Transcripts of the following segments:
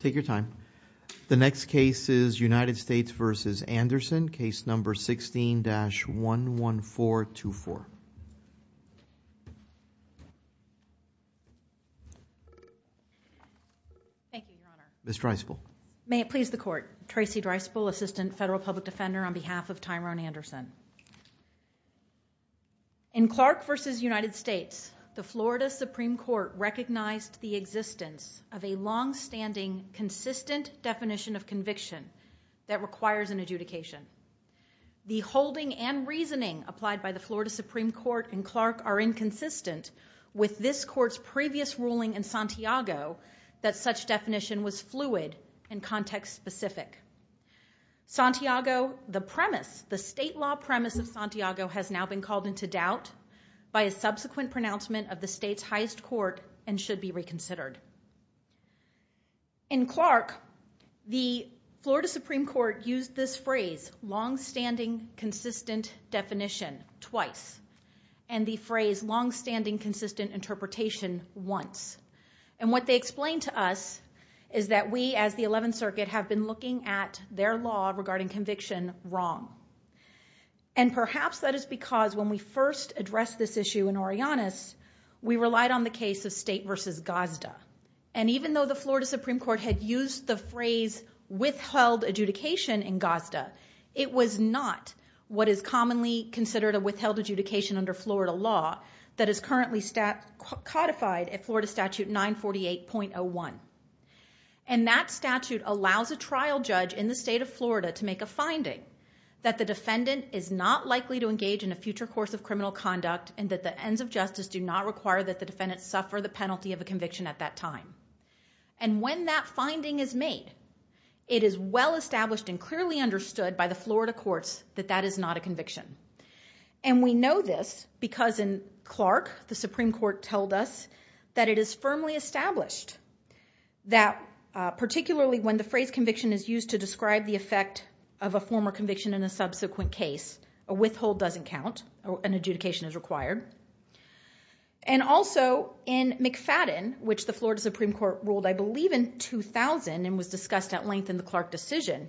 Take your time. The next case is United States v. Anderson, Case No. 16-11424. Thank you, Your Honor. Ms. Dreisbel. May it please the Court. Tracy Dreisbel, Assistant Federal Public Defender on behalf of Tyrone Anderson. In Clark v. United States, the Florida Supreme Court recognized the existence of a longstanding, consistent definition of conviction that requires an adjudication. The holding and reasoning applied by the Florida Supreme Court and Clark are inconsistent with this Court's previous ruling in Santiago that such definition was fluid and context-specific. Santiago, the premise, the state law premise of Santiago has now been called into doubt by a subsequent pronouncement of the state's highest court and should be reconsidered. In Clark, the Florida Supreme Court used this phrase, longstanding, consistent definition, twice, and the phrase longstanding, consistent interpretation, once. And what they explained to us is that we, as the Eleventh Circuit, have been looking at their law regarding conviction wrong. And perhaps that is because when we first addressed this issue in Orionis, we relied on the case of State v. Gazda. And even though the Florida Supreme Court had used the phrase withheld adjudication in Gazda, it was not what is commonly considered a withheld adjudication under Florida law that is currently codified at Florida Statute 948.01. And that statute allows a trial judge in the state of Florida to make a finding that the defendant is not likely to engage in a future course of criminal conduct and that the ends of justice do not require that the defendant suffer the penalty of a conviction at that time. And when that finding is made, it is well established and clearly understood by the Florida courts that that is not a conviction. And we know this because in Clark, the Supreme Court told us that it is firmly established that particularly when the phrase conviction is used to describe the effect of a former conviction in a subsequent case, a withhold doesn't count, an adjudication is required. And also in McFadden, which the Florida Supreme Court ruled, I believe, in 2000 and was discussed at length in the Clark decision,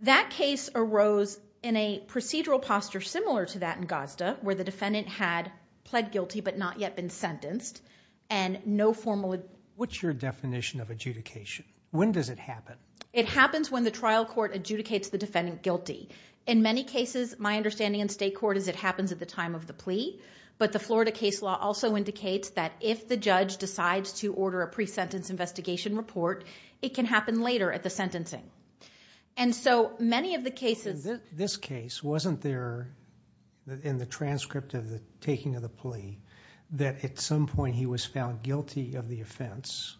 that case arose in a procedural posture similar to that in Gazda where the defendant had pled guilty but not yet been sentenced and no formal... What's your definition of adjudication? When does it happen? It happens when the trial court adjudicates the defendant guilty. In many cases, my understanding in state court is it happens at the time of the plea, but the Florida case law also indicates that if the judge decides to order a pre-sentence investigation report, it can happen later at the sentencing. And so many of the cases... This case, wasn't there in the transcript of the taking of the plea that at some point he was found guilty of the offense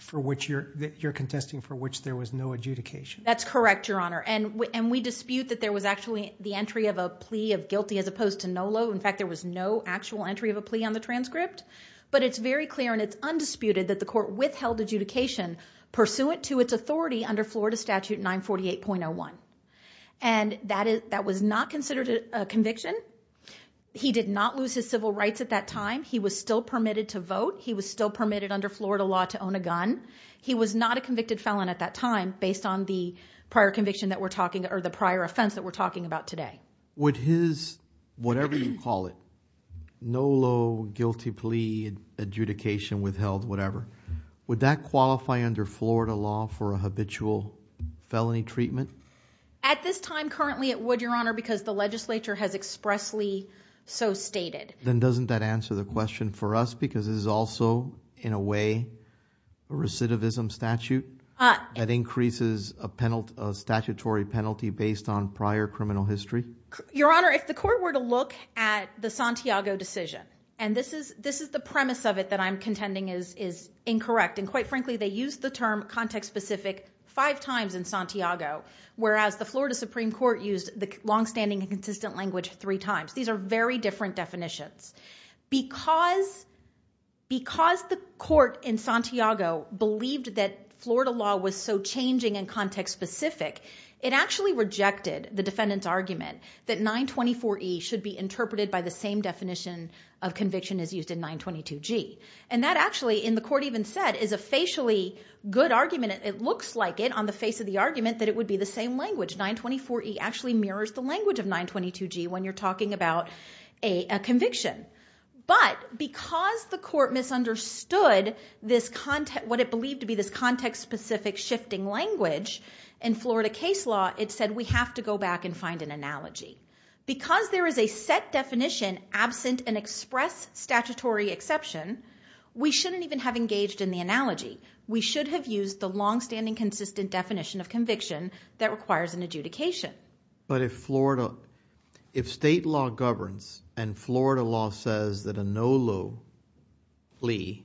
for which you're contesting, for which there was no adjudication? That's correct, Your Honor. And we dispute that there was actually the entry of a plea of guilty as opposed to no law. In fact, there was no actual entry of a plea on the transcript. But it's very clear and it's undisputed that the court withheld adjudication pursuant to its authority under Florida Statute 948.01. And that was not considered a conviction. He did not lose his civil rights at that time. He was still permitted to vote. He was still permitted under Florida law to own a gun. He was not a convicted felon at that time based on the prior offense that we're talking about today. Would his whatever you call it, no law, guilty plea, adjudication withheld, whatever, would that qualify under Florida law for a habitual felony treatment? At this time, currently it would, Your Honor, because the legislature has expressly so stated. Then doesn't that answer the question for us? Because this is also, in a way, a recidivism statute that increases a statutory penalty based on prior criminal history? Your Honor, if the court were to look at the Santiago decision, and this is the premise of it that I'm contending is incorrect, and quite frankly they used the term context specific five times in Santiago, whereas the Florida Supreme Court used the longstanding and consistent language three times. These are very different definitions. Because the court in Santiago believed that Florida law was so changing and context specific, it actually rejected the defendant's argument that 924E should be interpreted by the same definition of conviction as used in 922G. That actually, and the court even said, is a facially good argument. It looks like it on the face of the argument that it would be the same language. 924E actually mirrors the language of 922G when you're talking about a conviction. But because the court misunderstood what it believed to be this context specific shifting language in Florida case law, it said we have to go back and find an analogy. Because there is a set definition absent an express statutory exception, we should have used the longstanding consistent definition of conviction that requires an adjudication. But if Florida, if state law governs and Florida law says that a no low plea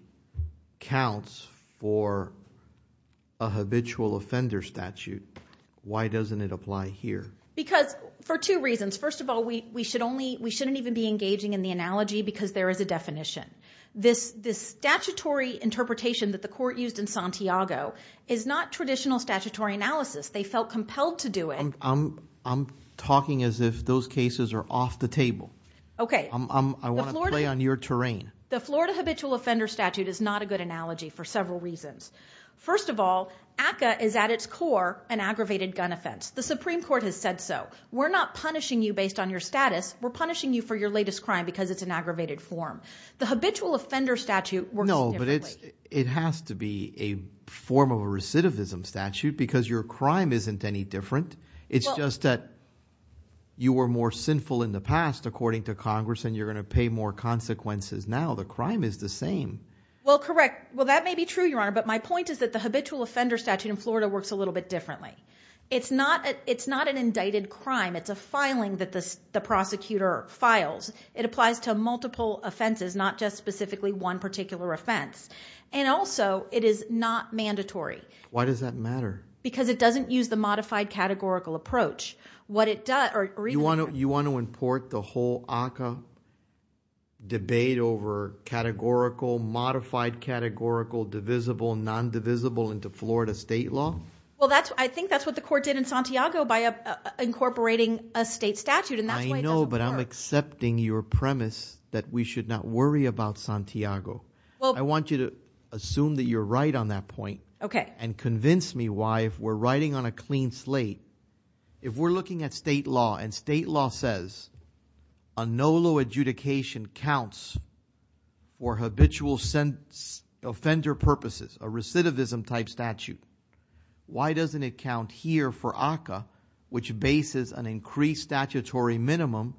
counts for a habitual offender statute, why doesn't it apply here? Because for two reasons. First of all, we should only, we shouldn't even be engaging in the analogy because there is a definition. This statutory interpretation that the court used in Santiago is not traditional statutory analysis. They felt compelled to do it. I'm talking as if those cases are off the table. Okay. I want to play on your terrain. The Florida habitual offender statute is not a good analogy for several reasons. First of all, ACCA is at its core an aggravated gun offense. The Supreme Court has said so. We're not punishing you based on your status. We're punishing you for your latest crime because it's an aggravated form. The habitual offender statute works differently. No, but it has to be a form of a recidivism statute because your crime isn't any different. It's just that you were more sinful in the past, according to Congress, and you're going to pay more consequences now. The crime is the same. Well, correct. Well, that may be true, Your Honor, but my point is that the habitual offender statute in Florida works a little bit differently. It's not an indicted crime. It's a filing that the prosecutor files. It applies to multiple offenses, not just specifically one particular offense, and also it is not mandatory. Why does that matter? Because it doesn't use the modified categorical approach. You want to import the whole ACCA debate over categorical, modified categorical, divisible, non-divisible into Florida state law? Well, I think that's what the court did in Santiago by incorporating a state statute, and that's why it doesn't work. No, but I'm accepting your premise that we should not worry about Santiago. I want you to assume that you're right on that point and convince me why, if we're writing on a clean slate, if we're looking at state law and state law says a no low adjudication counts for habitual offender purposes, a recidivism type statute, why doesn't it count here for ACCA, which bases an increased statutory minimum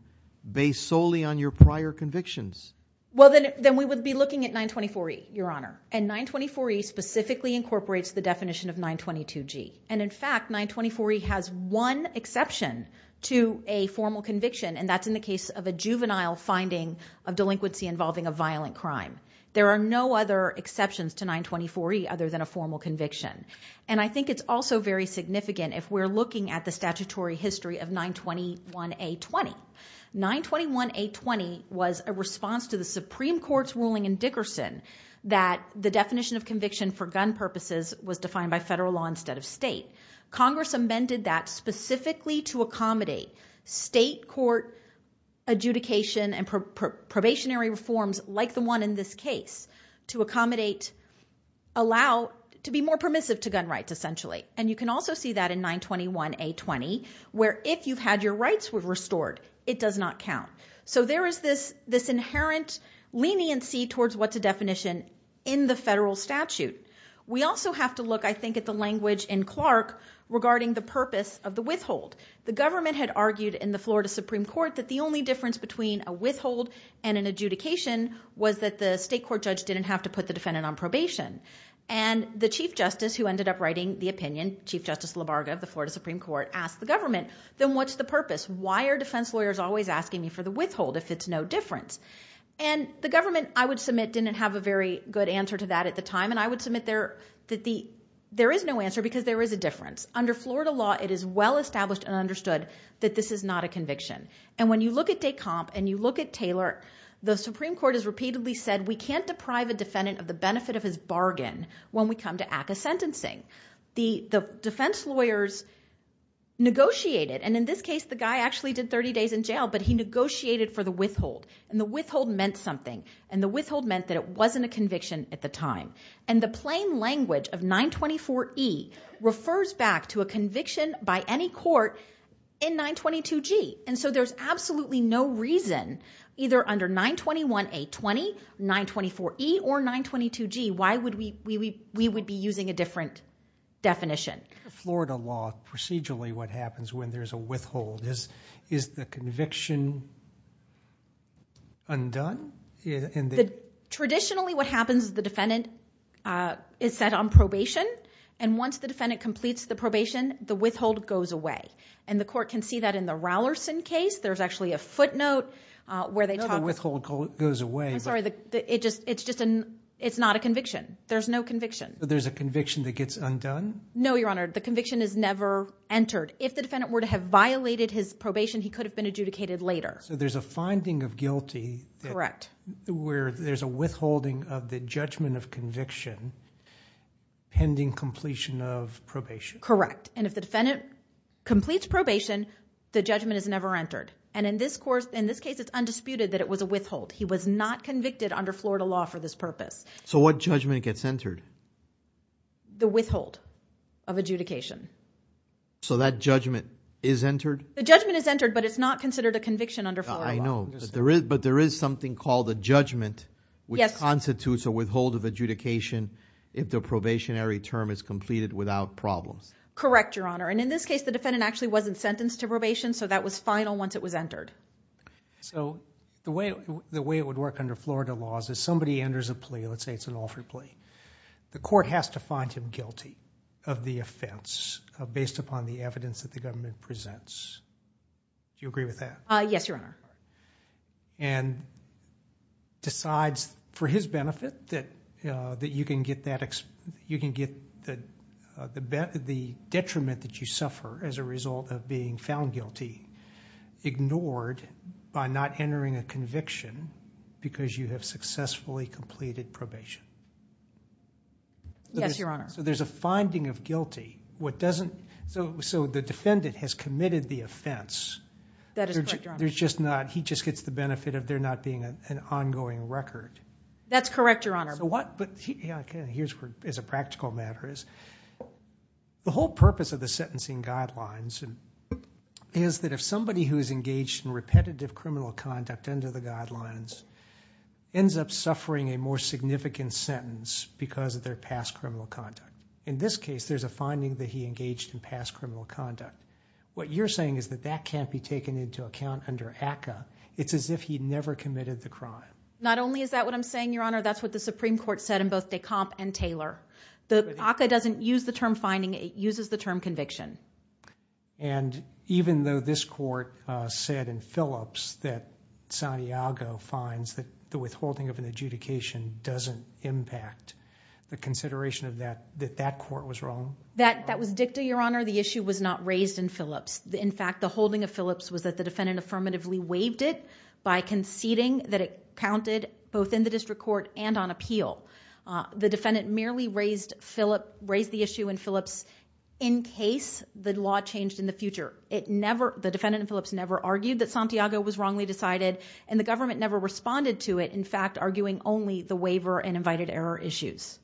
based solely on your prior convictions? Well, then we would be looking at 924E, Your Honor, and 924E specifically incorporates the definition of 922G. And in fact, 924E has one exception to a formal conviction, and that's in the case of a juvenile finding of delinquency involving a violent crime. There are no other exceptions to 924E other than a formal conviction. And I think it's also very significant if we're looking at the statutory history of 921A20. 921A20 was a response to the Supreme Court's ruling in Dickerson that the definition of conviction for gun purposes was defined by federal law instead of state. Congress amended that specifically to accommodate state court adjudication and probationary reforms like the one in this case to accommodate, allow, to be more permissive to gun rights, essentially. And you can also see that in 921A20, where if you've had your rights restored, it does not count. So there is this inherent leniency towards what's a definition in the federal statute. We also have to look, I think, at the language in Clark regarding the purpose of the withhold. The government had argued in the Florida Supreme Court that the only difference between a withhold and an adjudication was that the state court judge didn't have to put the defendant on probation. And the chief justice, who ended up writing the opinion, Chief Justice Labarga of the Florida Supreme Court, asked the government, then what's the purpose? Why are defense lawyers always asking me for the withhold if it's no difference? And the government, I would submit, didn't have a very good answer to that at the time. And I would submit that there is no answer because there is a difference. Under Florida law, it is well established and understood that this is not a conviction. And when you look at de comp and you look at Taylor, the Supreme Court has repeatedly said we can't deprive a defendant of the benefit of his bargain when we come to ACCA sentencing. The defense lawyers negotiated. And in this case, the guy actually did 30 days in jail, but he negotiated for the withhold. And the withhold meant something. And the withhold meant that it wasn't a conviction at the time. And the plain language of 924E refers back to a conviction by any court in 922G. And so there's absolutely no reason, either under 921A20, 924E, or 922G, why we would be using a different definition. Florida law, procedurally, what happens when there's a withhold? Is the conviction undone? Traditionally, what happens is the defendant is set on probation. And once the defendant completes the probation, the withhold goes away. And the court can see that in the Rowlerson case. There's actually a footnote where they talk about it. No, the withhold goes away. I'm sorry. It's not a conviction. There's no conviction. So there's a conviction that gets undone? No, Your Honor. The conviction is never entered. If the defendant were to have violated his probation, he could have been adjudicated later. So there's a finding of guilty where there's a withholding of the judgment of conviction pending completion of probation. Correct. And if the defendant completes probation, the judgment is never entered. And in this case, it's undisputed that it was a withhold. He was not convicted under Florida law for this purpose. So what judgment gets entered? The withhold of adjudication. So that judgment is entered? The judgment is entered, but it's not considered a conviction under Florida law. I know. But there is something called a judgment which constitutes a withhold of adjudication if the probationary term is completed without problems. Correct, Your Honor. And in this case, the defendant actually wasn't sentenced to probation, so that was final once it was entered. So the way it would work under Florida law is if somebody enters a plea, let's say it's an offered plea, the court has to find him guilty of the offense based upon the evidence that the government presents. Do you agree with that? Yes, Your Honor. And decides for his benefit that you can get the detriment that you suffer as a result of being found guilty ignored by not entering a conviction because you have successfully completed probation. Yes, Your Honor. So there's a finding of guilty. So the defendant has committed the offense. That is correct, Your Honor. He just gets the benefit of there not being an ongoing record. That's correct, Your Honor. Here's where, as a practical matter, the whole purpose of the sentencing guidelines is that if somebody who is engaged in repetitive criminal conduct under the guidelines ends up suffering a more significant sentence because of their past criminal conduct. In this case, there's a finding that he engaged in past criminal conduct. What you're saying is that that can't be taken into account under ACCA. It's as if he never committed the crime. Not only is that what I'm saying, Your Honor, that's what the Supreme Court said in both Decomp and Taylor. The ACCA doesn't use the term finding. It uses the term conviction. And even though this court said in Phillips that Santiago finds that the withholding of an adjudication doesn't impact the consideration of that, that that court was wrong? That was dicta, Your Honor. The issue was not raised in Phillips. In fact, the holding of Phillips was that the defendant affirmatively waived it by conceding that it counted both in the district court and on appeal. The defendant merely raised the issue in Phillips in case the law changed in the future. The defendant in Phillips never argued that Santiago was wrongly decided, and the government never responded to it, in fact, arguing only the waiver and invited error issues.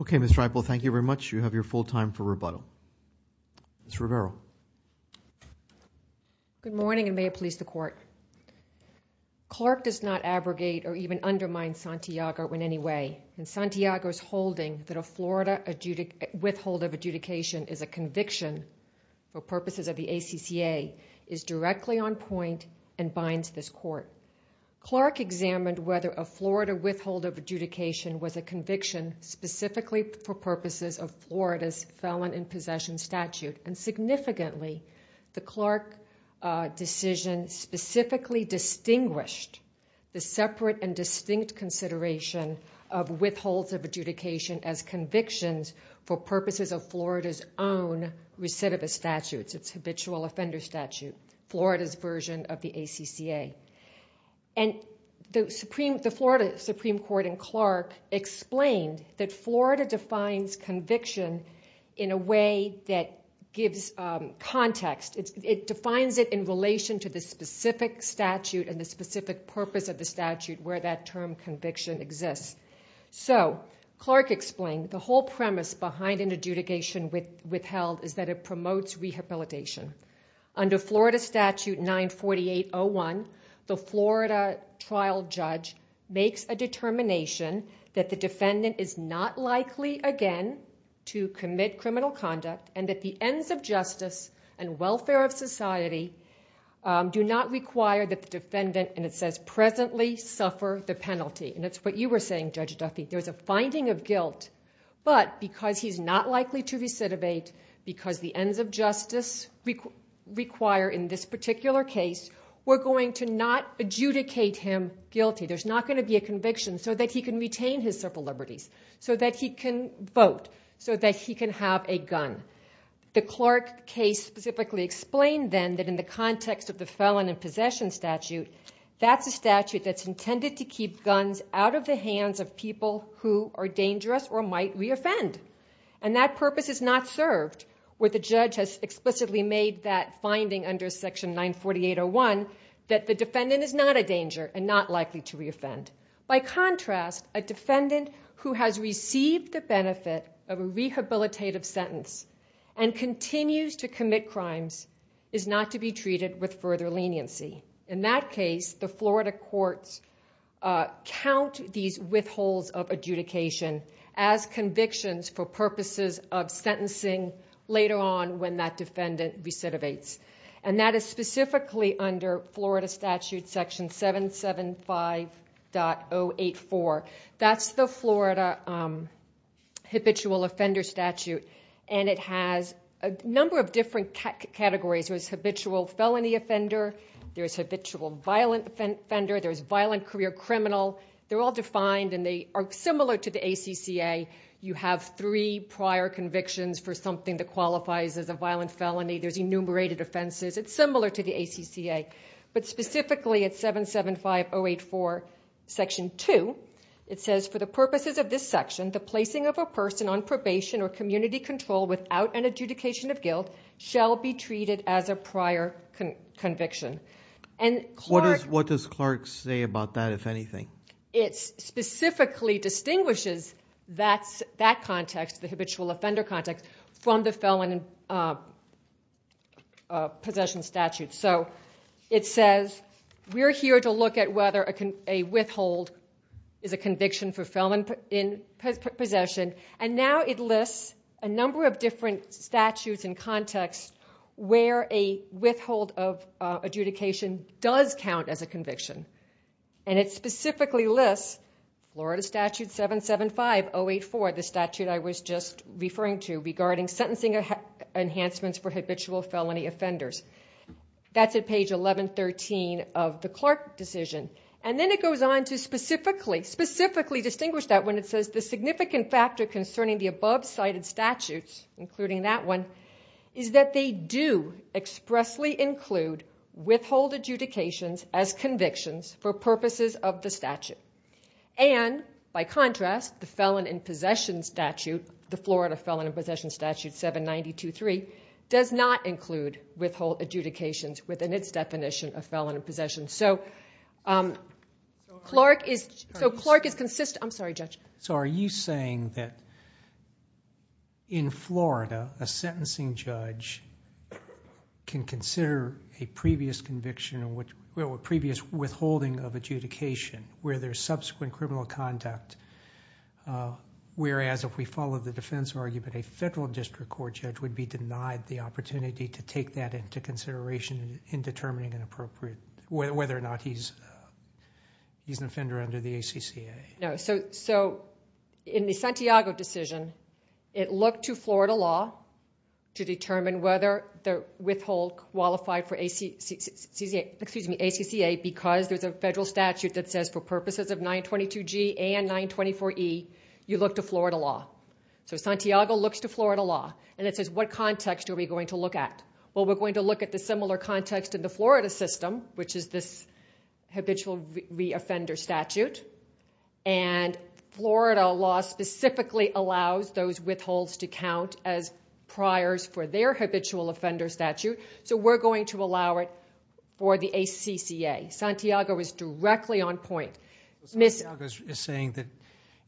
Okay, Ms. Dreibel, thank you very much. You have your full time for rebuttal. Ms. Rivera. Good morning, and may it please the court. Clark does not abrogate or even undermine Santiago in any way, and Santiago's holding that a Florida withhold of adjudication is a conviction for purposes of the ACCA is directly on point and binds this court. Clark examined whether a Florida withhold of adjudication was a conviction specifically for purposes of Florida's felon in possession statute, and significantly the Clark decision specifically distinguished the separate and distinct consideration of withholds of adjudication as convictions for purposes of Florida's own recidivist statute, its habitual offender statute, Florida's version of the ACCA. The Florida Supreme Court in Clark explained that Florida defines conviction in a way that gives context. It defines it in relation to the specific statute and the specific purpose of the statute where that term conviction exists. So Clark explained the whole premise behind an adjudication withheld is that it promotes rehabilitation. Under Florida statute 948.01, the Florida trial judge makes a determination that the defendant is not likely again to commit criminal conduct and that the ends of justice and welfare of society do not require that the defendant, and it says presently, suffer the penalty. And that's what you were saying, Judge Duffy. There's a finding of guilt, but because he's not likely to recidivate, because the ends of justice require in this particular case, we're going to not adjudicate him guilty. There's not going to be a conviction so that he can retain his civil liberties, so that he can vote, so that he can have a gun. The Clark case specifically explained then that in the context of the felon in possession statute, that's a statute that's intended to keep guns out of the hands of people who are dangerous or might reoffend. And that purpose is not served where the judge has explicitly made that finding under section 948.01 that the defendant is not a danger and not likely to reoffend. By contrast, a defendant who has received the benefit of a rehabilitative sentence and continues to commit crimes is not to be treated with further leniency. In that case, the Florida courts count these withholds of adjudication as convictions for purposes of sentencing later on when that defendant recidivates. And that is specifically under Florida statute section 775.084. That's the Florida habitual offender statute, and it has a number of different categories. There's habitual felony offender. There's habitual violent offender. There's violent career criminal. They're all defined, and they are similar to the ACCA. You have three prior convictions for something that qualifies as a violent felony. There's enumerated offenses. It's similar to the ACCA. But specifically at 775.084, section 2, it says, for the purposes of this section, the placing of a person on probation or community control without an adjudication of guilt shall be treated as a prior conviction. And Clark... What does Clark say about that, if anything? It specifically distinguishes that context, the habitual offender context, from the felon possession statute. So it says, we're here to look at whether a withhold is a conviction for felon possession. And now it lists a number of different statutes and contexts where a withhold of adjudication does count as a conviction. And it specifically lists Florida statute 775.084, the statute I was just referring to, regarding sentencing enhancements for habitual felony offenders. That's at page 1113 of the Clark decision. And then it goes on to specifically distinguish that when it says, the significant factor concerning the above-cited statutes, including that one, is that they do expressly include withhold adjudications as convictions for purposes of the statute. And, by contrast, the felon in possession statute, the Florida Felon in Possession Statute 792.3, does not include withhold adjudications within its definition of felon in possession. So Clark is consistent... I'm sorry, Judge. So are you saying that in Florida, a sentencing judge can consider a previous conviction, or a previous withholding of adjudication, where there's subsequent criminal conduct, whereas if we follow the defense argument, a federal district court judge would be denied the opportunity to take that into consideration in determining whether or not he's an offender under the ACCA? No. So in the Santiago decision, it looked to Florida law to determine whether the withhold qualified for ACCA because there's a federal statute that says for purposes of 922G and 924E, you look to Florida law. So Santiago looks to Florida law, and it says, what context are we going to look at? Well, we're going to look at the similar context in the Florida system, which is this habitual offender statute. And Florida law specifically allows those withholds to count as priors for their habitual offender statute. So we're going to allow it for the ACCA. Santiago is directly on point. Santiago is saying that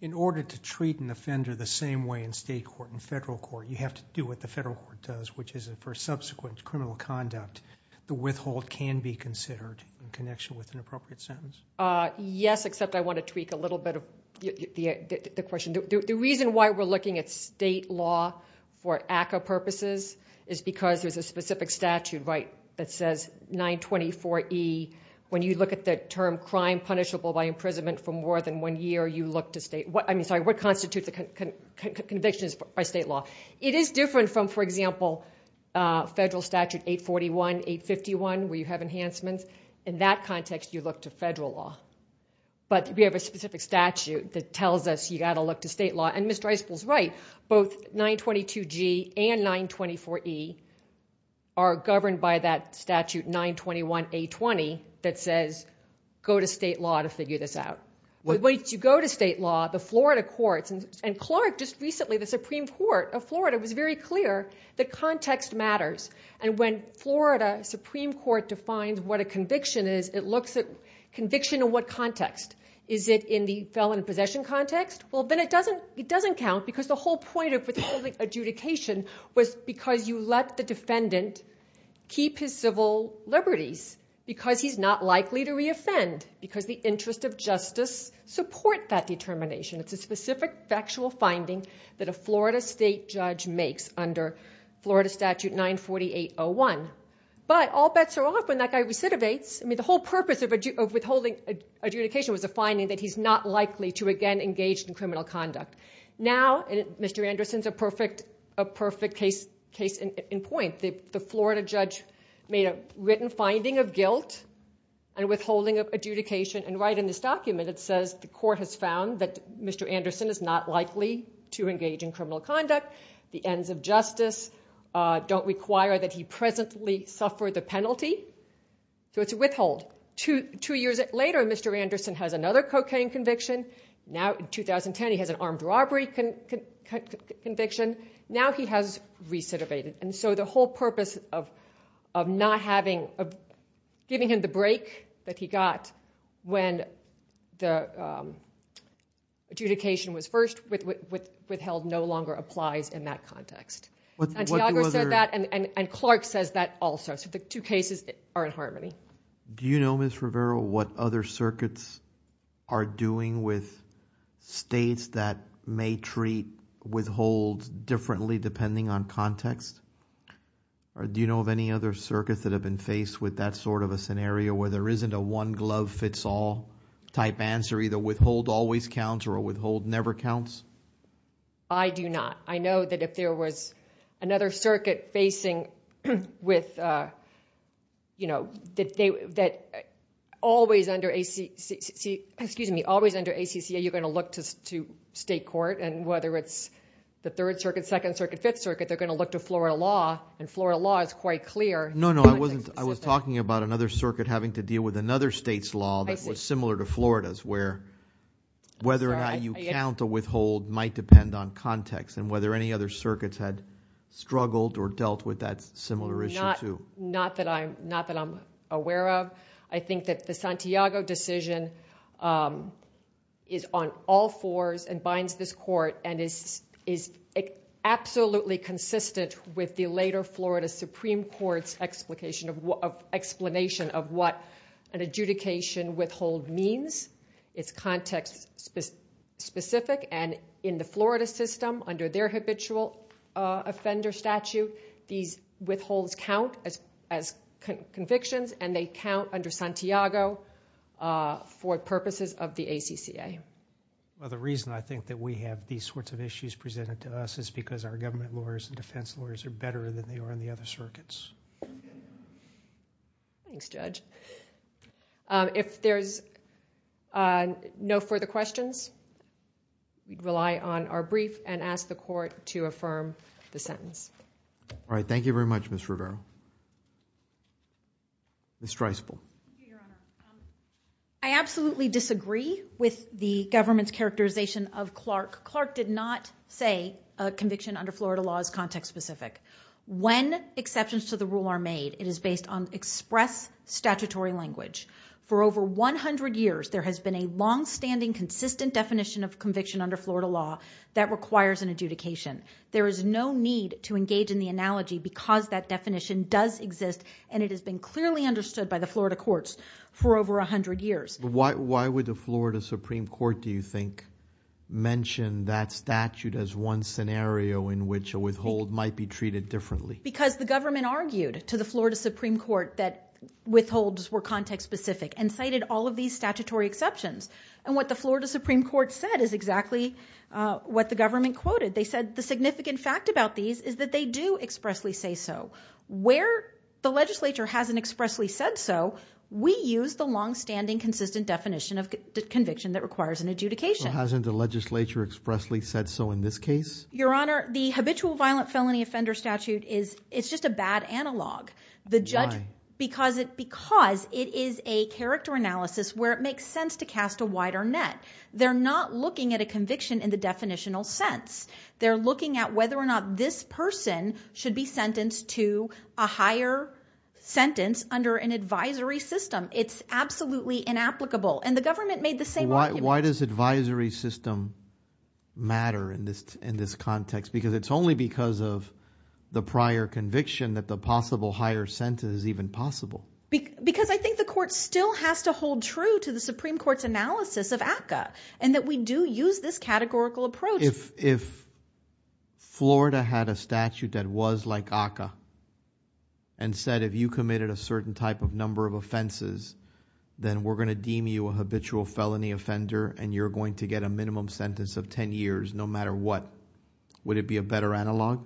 in order to treat an offender the same way in state court and federal court, you have to do what the federal court does, which is for subsequent criminal conduct, the withhold can be considered in connection with an appropriate sentence? Yes, except I want to tweak a little bit of the question. The reason why we're looking at state law for ACCA purposes is because there's a specific statute that says 924E. When you look at the term crime punishable by imprisonment for more than one year, you look to state. I mean, sorry, what constitutes convictions by state law? It is different from, for example, federal statute 841, 851, where you have enhancements. In that context, you look to federal law. But we have a specific statute that tells us you've got to look to state law. And Mr. Isbell's right. Both 922G and 924E are governed by that statute 921A20 that says go to state law to figure this out. When you go to state law, the Florida courts, and Clark just recently, the Supreme Court of Florida, was very clear that context matters. And when Florida Supreme Court defines what a conviction is, it looks at conviction in what context? Is it in the felon possession context? Well, then it doesn't count because the whole point of public adjudication was because you let the defendant keep his civil liberties because he's not likely to reoffend because the interest of justice support that determination. It's a specific factual finding that a Florida state judge makes under Florida statute 948.01. But all bets are off when that guy recidivates. I mean, the whole purpose of withholding adjudication was a finding that he's not likely to again engage in criminal conduct. Now, Mr. Anderson's a perfect case in point. The Florida judge made a written finding of guilt and withholding of adjudication. And right in this document, it says the court has found that Mr. Anderson is not likely to engage in criminal conduct. The ends of justice don't require that he presently suffer the penalty. So it's a withhold. Two years later, Mr. Anderson has another cocaine conviction. Now in 2010, he has an armed robbery conviction. Now he has recidivated. And so the whole purpose of giving him the break that he got when the adjudication was first withheld no longer applies in that context. Santiago said that, and Clark says that also. So the two cases are in harmony. Do you know, Ms. Rivera, what other circuits are doing with states that may treat withholds differently depending on context? Or do you know of any other circuits that have been faced with that sort of a scenario where there isn't a one glove fits all type answer, either withhold always counts or a withhold never counts? I do not. I know that if there was another circuit facing with, that always under ACC, you're going to look to state court. And whether it's the Third Circuit, Second Circuit, Fifth Circuit, they're going to look to Florida law. And Florida law is quite clear. No, no, I wasn't. I was talking about another circuit having to deal with another state's law that was similar to Florida's, where whether or not you count a withhold might depend on context and whether any other circuits had struggled or dealt with that similar issue too. Not that I'm aware of. I think that the Santiago decision is on all fours and binds this court and is absolutely consistent with the later Florida Supreme Court's explanation of what an adjudication withhold means. It's context specific and in the Florida system under their habitual offender statute, these withholds count as convictions and they count under Santiago for purposes of the ACCA. Well, the reason I think that we have these sorts of issues presented to us is because our government lawyers and defense lawyers are better than they are in the other circuits. Thanks, Judge. If there's no further questions, we rely on our brief and ask the court to affirm the sentence. All right. Thank you very much, Ms. Rivera. Ms. Streisful. I absolutely disagree with the government's characterization of Clark. Clark did not say a conviction under Florida law is context specific. When exceptions to the rule are made, it is based on express statutory language. For over 100 years, there has been a longstanding, consistent definition of conviction under Florida law that requires an adjudication. There is no need to engage in the analogy because that definition does exist and it has been clearly understood by the Florida courts for over 100 years. Why would the Florida Supreme Court, do you think, mention that statute as one scenario in which a withhold might be treated differently? Because the government argued to the Florida Supreme Court that withholds were context specific and cited all of these statutory exceptions. And what the Florida Supreme Court said is exactly what the government quoted. They said the significant fact about these is that they do expressly say so. Where the legislature hasn't expressly said so, we use the longstanding, consistent definition of conviction that requires an adjudication. Well, hasn't the legislature expressly said so in this case? Your Honor, the habitual violent felony offender statute is just a bad analog. Why? Because it is a character analysis where it makes sense to cast a wider net. They're not looking at a conviction in the definitional sense. They're looking at whether or not this person should be sentenced to a higher sentence under an advisory system. It's absolutely inapplicable. And the government made the same argument. Why does advisory system matter in this context? Because it's only because of the prior conviction that the possible higher sentence is even possible. Because I think the court still has to hold true to the Supreme Court's analysis of ACCA and that we do use this categorical approach. If Florida had a statute that was like ACCA and said if you committed a certain type of number of offenses, then we're going to deem you a habitual felony offender and you're going to get a minimum sentence of 10 years no matter what, would it be a better analog?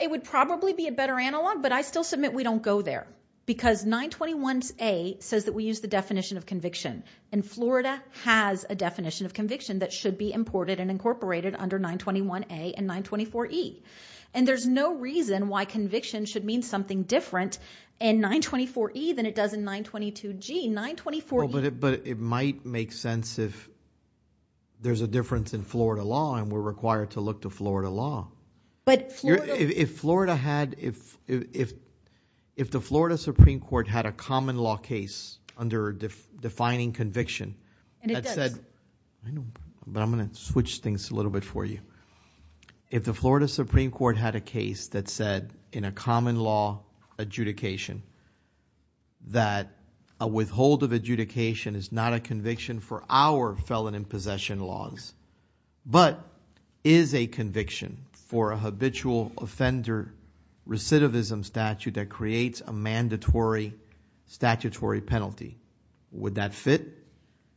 It would probably be a better analog, but I still submit we don't go there because 921A says that we use the definition of conviction. And Florida has a definition of conviction that should be imported and incorporated under 921A and 924E. And there's no reason why conviction should mean something different in 924E than it does in 922G. 924E- But it might make sense if there's a difference in Florida law and we're required to look to Florida law. But Florida- If Florida had, if the Florida Supreme Court had a common law case under defining conviction that said- And it does. But I'm going to switch things a little bit for you. If the Florida Supreme Court had a case that said in a common law adjudication that a withhold of adjudication is not a conviction for our felon in possession laws but is a conviction for a habitual offender recidivism statute that creates a mandatory statutory penalty, would that fit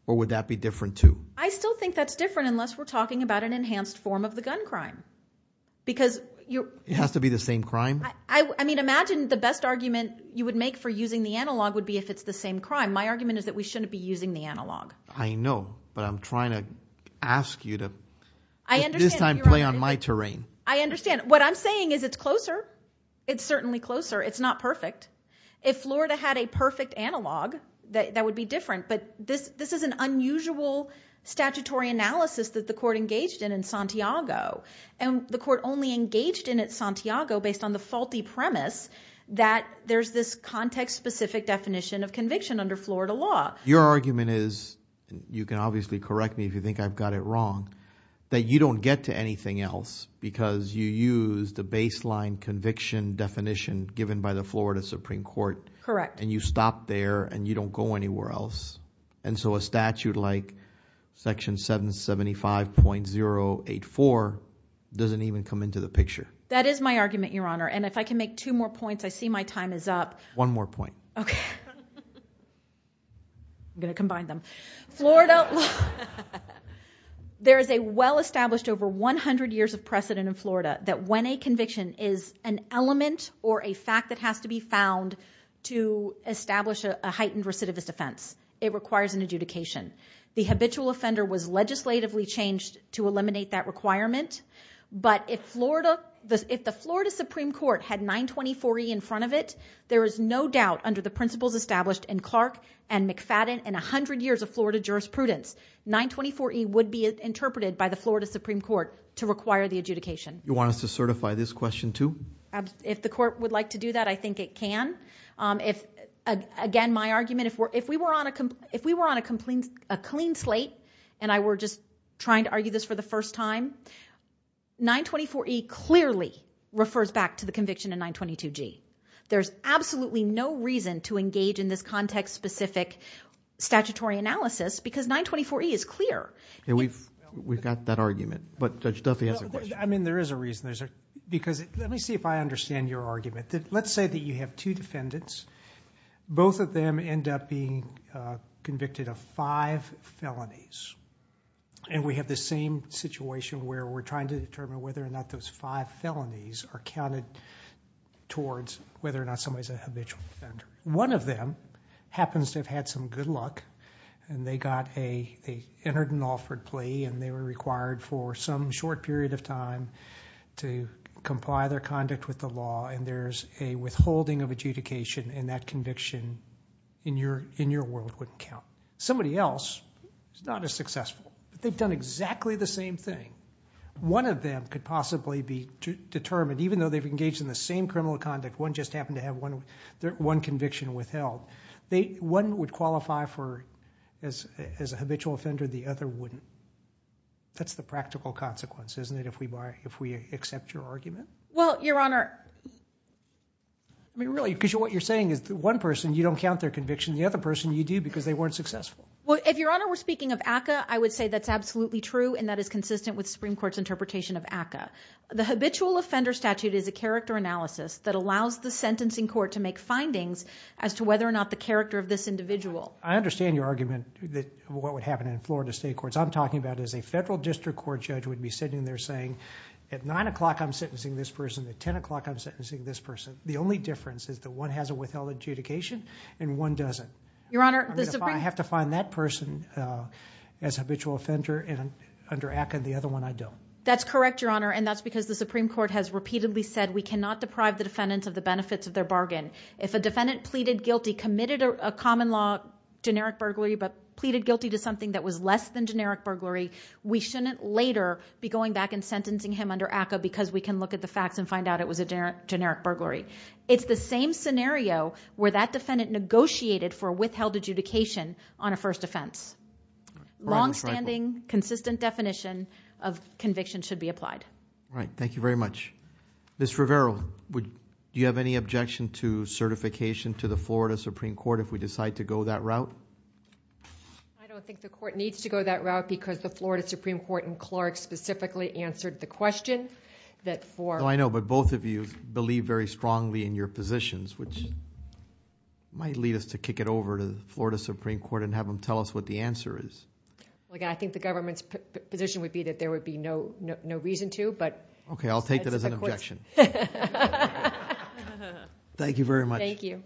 or would that be different too? I still think that's different unless we're talking about an enhanced form of the gun crime. Because you're- It has to be the same crime? I mean, imagine the best argument you would make for using the analog would be if it's the same crime. My argument is that we shouldn't be using the analog. I know. But I'm trying to ask you to- I understand. This time play on my terrain. I understand. What I'm saying is it's closer. It's certainly closer. It's not perfect. If Florida had a perfect analog, that would be different. But this is an unusual statutory analysis that the court engaged in in Santiago. And the court only engaged in it in Santiago based on the faulty premise that there's this context-specific definition of conviction under Florida law. Your argument is, and you can obviously correct me if you think I've got it wrong, that you don't get to anything else because you use the baseline conviction definition given by the Florida Supreme Court. Correct. And you stop there and you don't go anywhere else. And so a statute like Section 775.084 doesn't even come into the picture. That is my argument, Your Honor. And if I can make two more points, I see my time is up. One more point. Okay. I'm going to combine them. Florida- There is a well-established over 100 years of precedent in Florida that when a conviction is an element or a fact that has to be found to establish a heightened recidivist offense, it requires an adjudication. The habitual offender was legislatively changed to eliminate that requirement. But if the Florida Supreme Court had 924E in front of it, there is no doubt under the principles established in Clark and McFadden and 100 years of Florida jurisprudence, 924E would be interpreted by the Florida Supreme Court to require the adjudication. You want us to certify this question too? If the court would like to do that, I think it can. Again, my argument, if we were on a clean slate and I were just trying to argue this for the first time, 924E clearly refers back to the conviction in 922G. There's absolutely no reason to engage in this context-specific statutory analysis because 924E is clear. We've got that argument, but Judge Duffy has a question. There is a reason. Let me see if I understand your argument. Let's say that you have two defendants. Both of them end up being convicted of five felonies. We have the same situation where we're trying to determine whether or not those five felonies are counted towards whether or not somebody is a habitual offender. One of them happens to have had some good luck and they entered an offered plea and they were required for some short period of time to comply their conduct with the law, and there's a withholding of adjudication, and that conviction in your world wouldn't count. Somebody else is not as successful. They've done exactly the same thing. One of them could possibly be determined, even though they've engaged in the same criminal conduct, one just happened to have one conviction withheld. One would qualify as a habitual offender, the other wouldn't. That's the practical consequence, isn't it, if we accept your argument? Well, Your Honor... I mean, really, because what you're saying is one person you don't count their conviction, the other person you do because they weren't successful. Well, if, Your Honor, we're speaking of ACCA, I would say that's absolutely true, and that is consistent with the Supreme Court's interpretation of ACCA. The habitual offender statute is a character analysis that allows the sentencing court to make findings as to whether or not the character of this individual... I understand your argument that what would happen in Florida state courts. I'm talking about as a federal district court judge would be sitting there saying, at 9 o'clock I'm sentencing this person, at 10 o'clock I'm sentencing this person. The only difference is that one has a withheld adjudication and one doesn't. Your Honor, the Supreme... I have to find that person as a habitual offender under ACCA and the other one I don't. That's correct, Your Honor, and that's because the Supreme Court has repeatedly said we cannot deprive the defendant of the benefits of their bargain. If a defendant pleaded guilty, committed a common law generic burglary, but pleaded guilty to something that was less than generic burglary, we shouldn't later be going back and sentencing him under ACCA because we can look at the facts and find out it was a generic burglary. It's the same scenario where that defendant negotiated for a withheld adjudication on a first offense. Long-standing, consistent definition of conviction should be applied. All right, thank you very much. Ms. Rivera, do you have any objection to certification to the Florida Supreme Court if we decide to go that route? I don't think the court needs to go that route because the Florida Supreme Court and Clark specifically answered the question that for... I know, but both of you believe very strongly in your positions, which might lead us to kick it over to the Florida Supreme Court and have them tell us what the answer is. I think the government's position would be that there would be no reason to, but... Okay, I'll take that as an objection. Thank you very much. Thank you.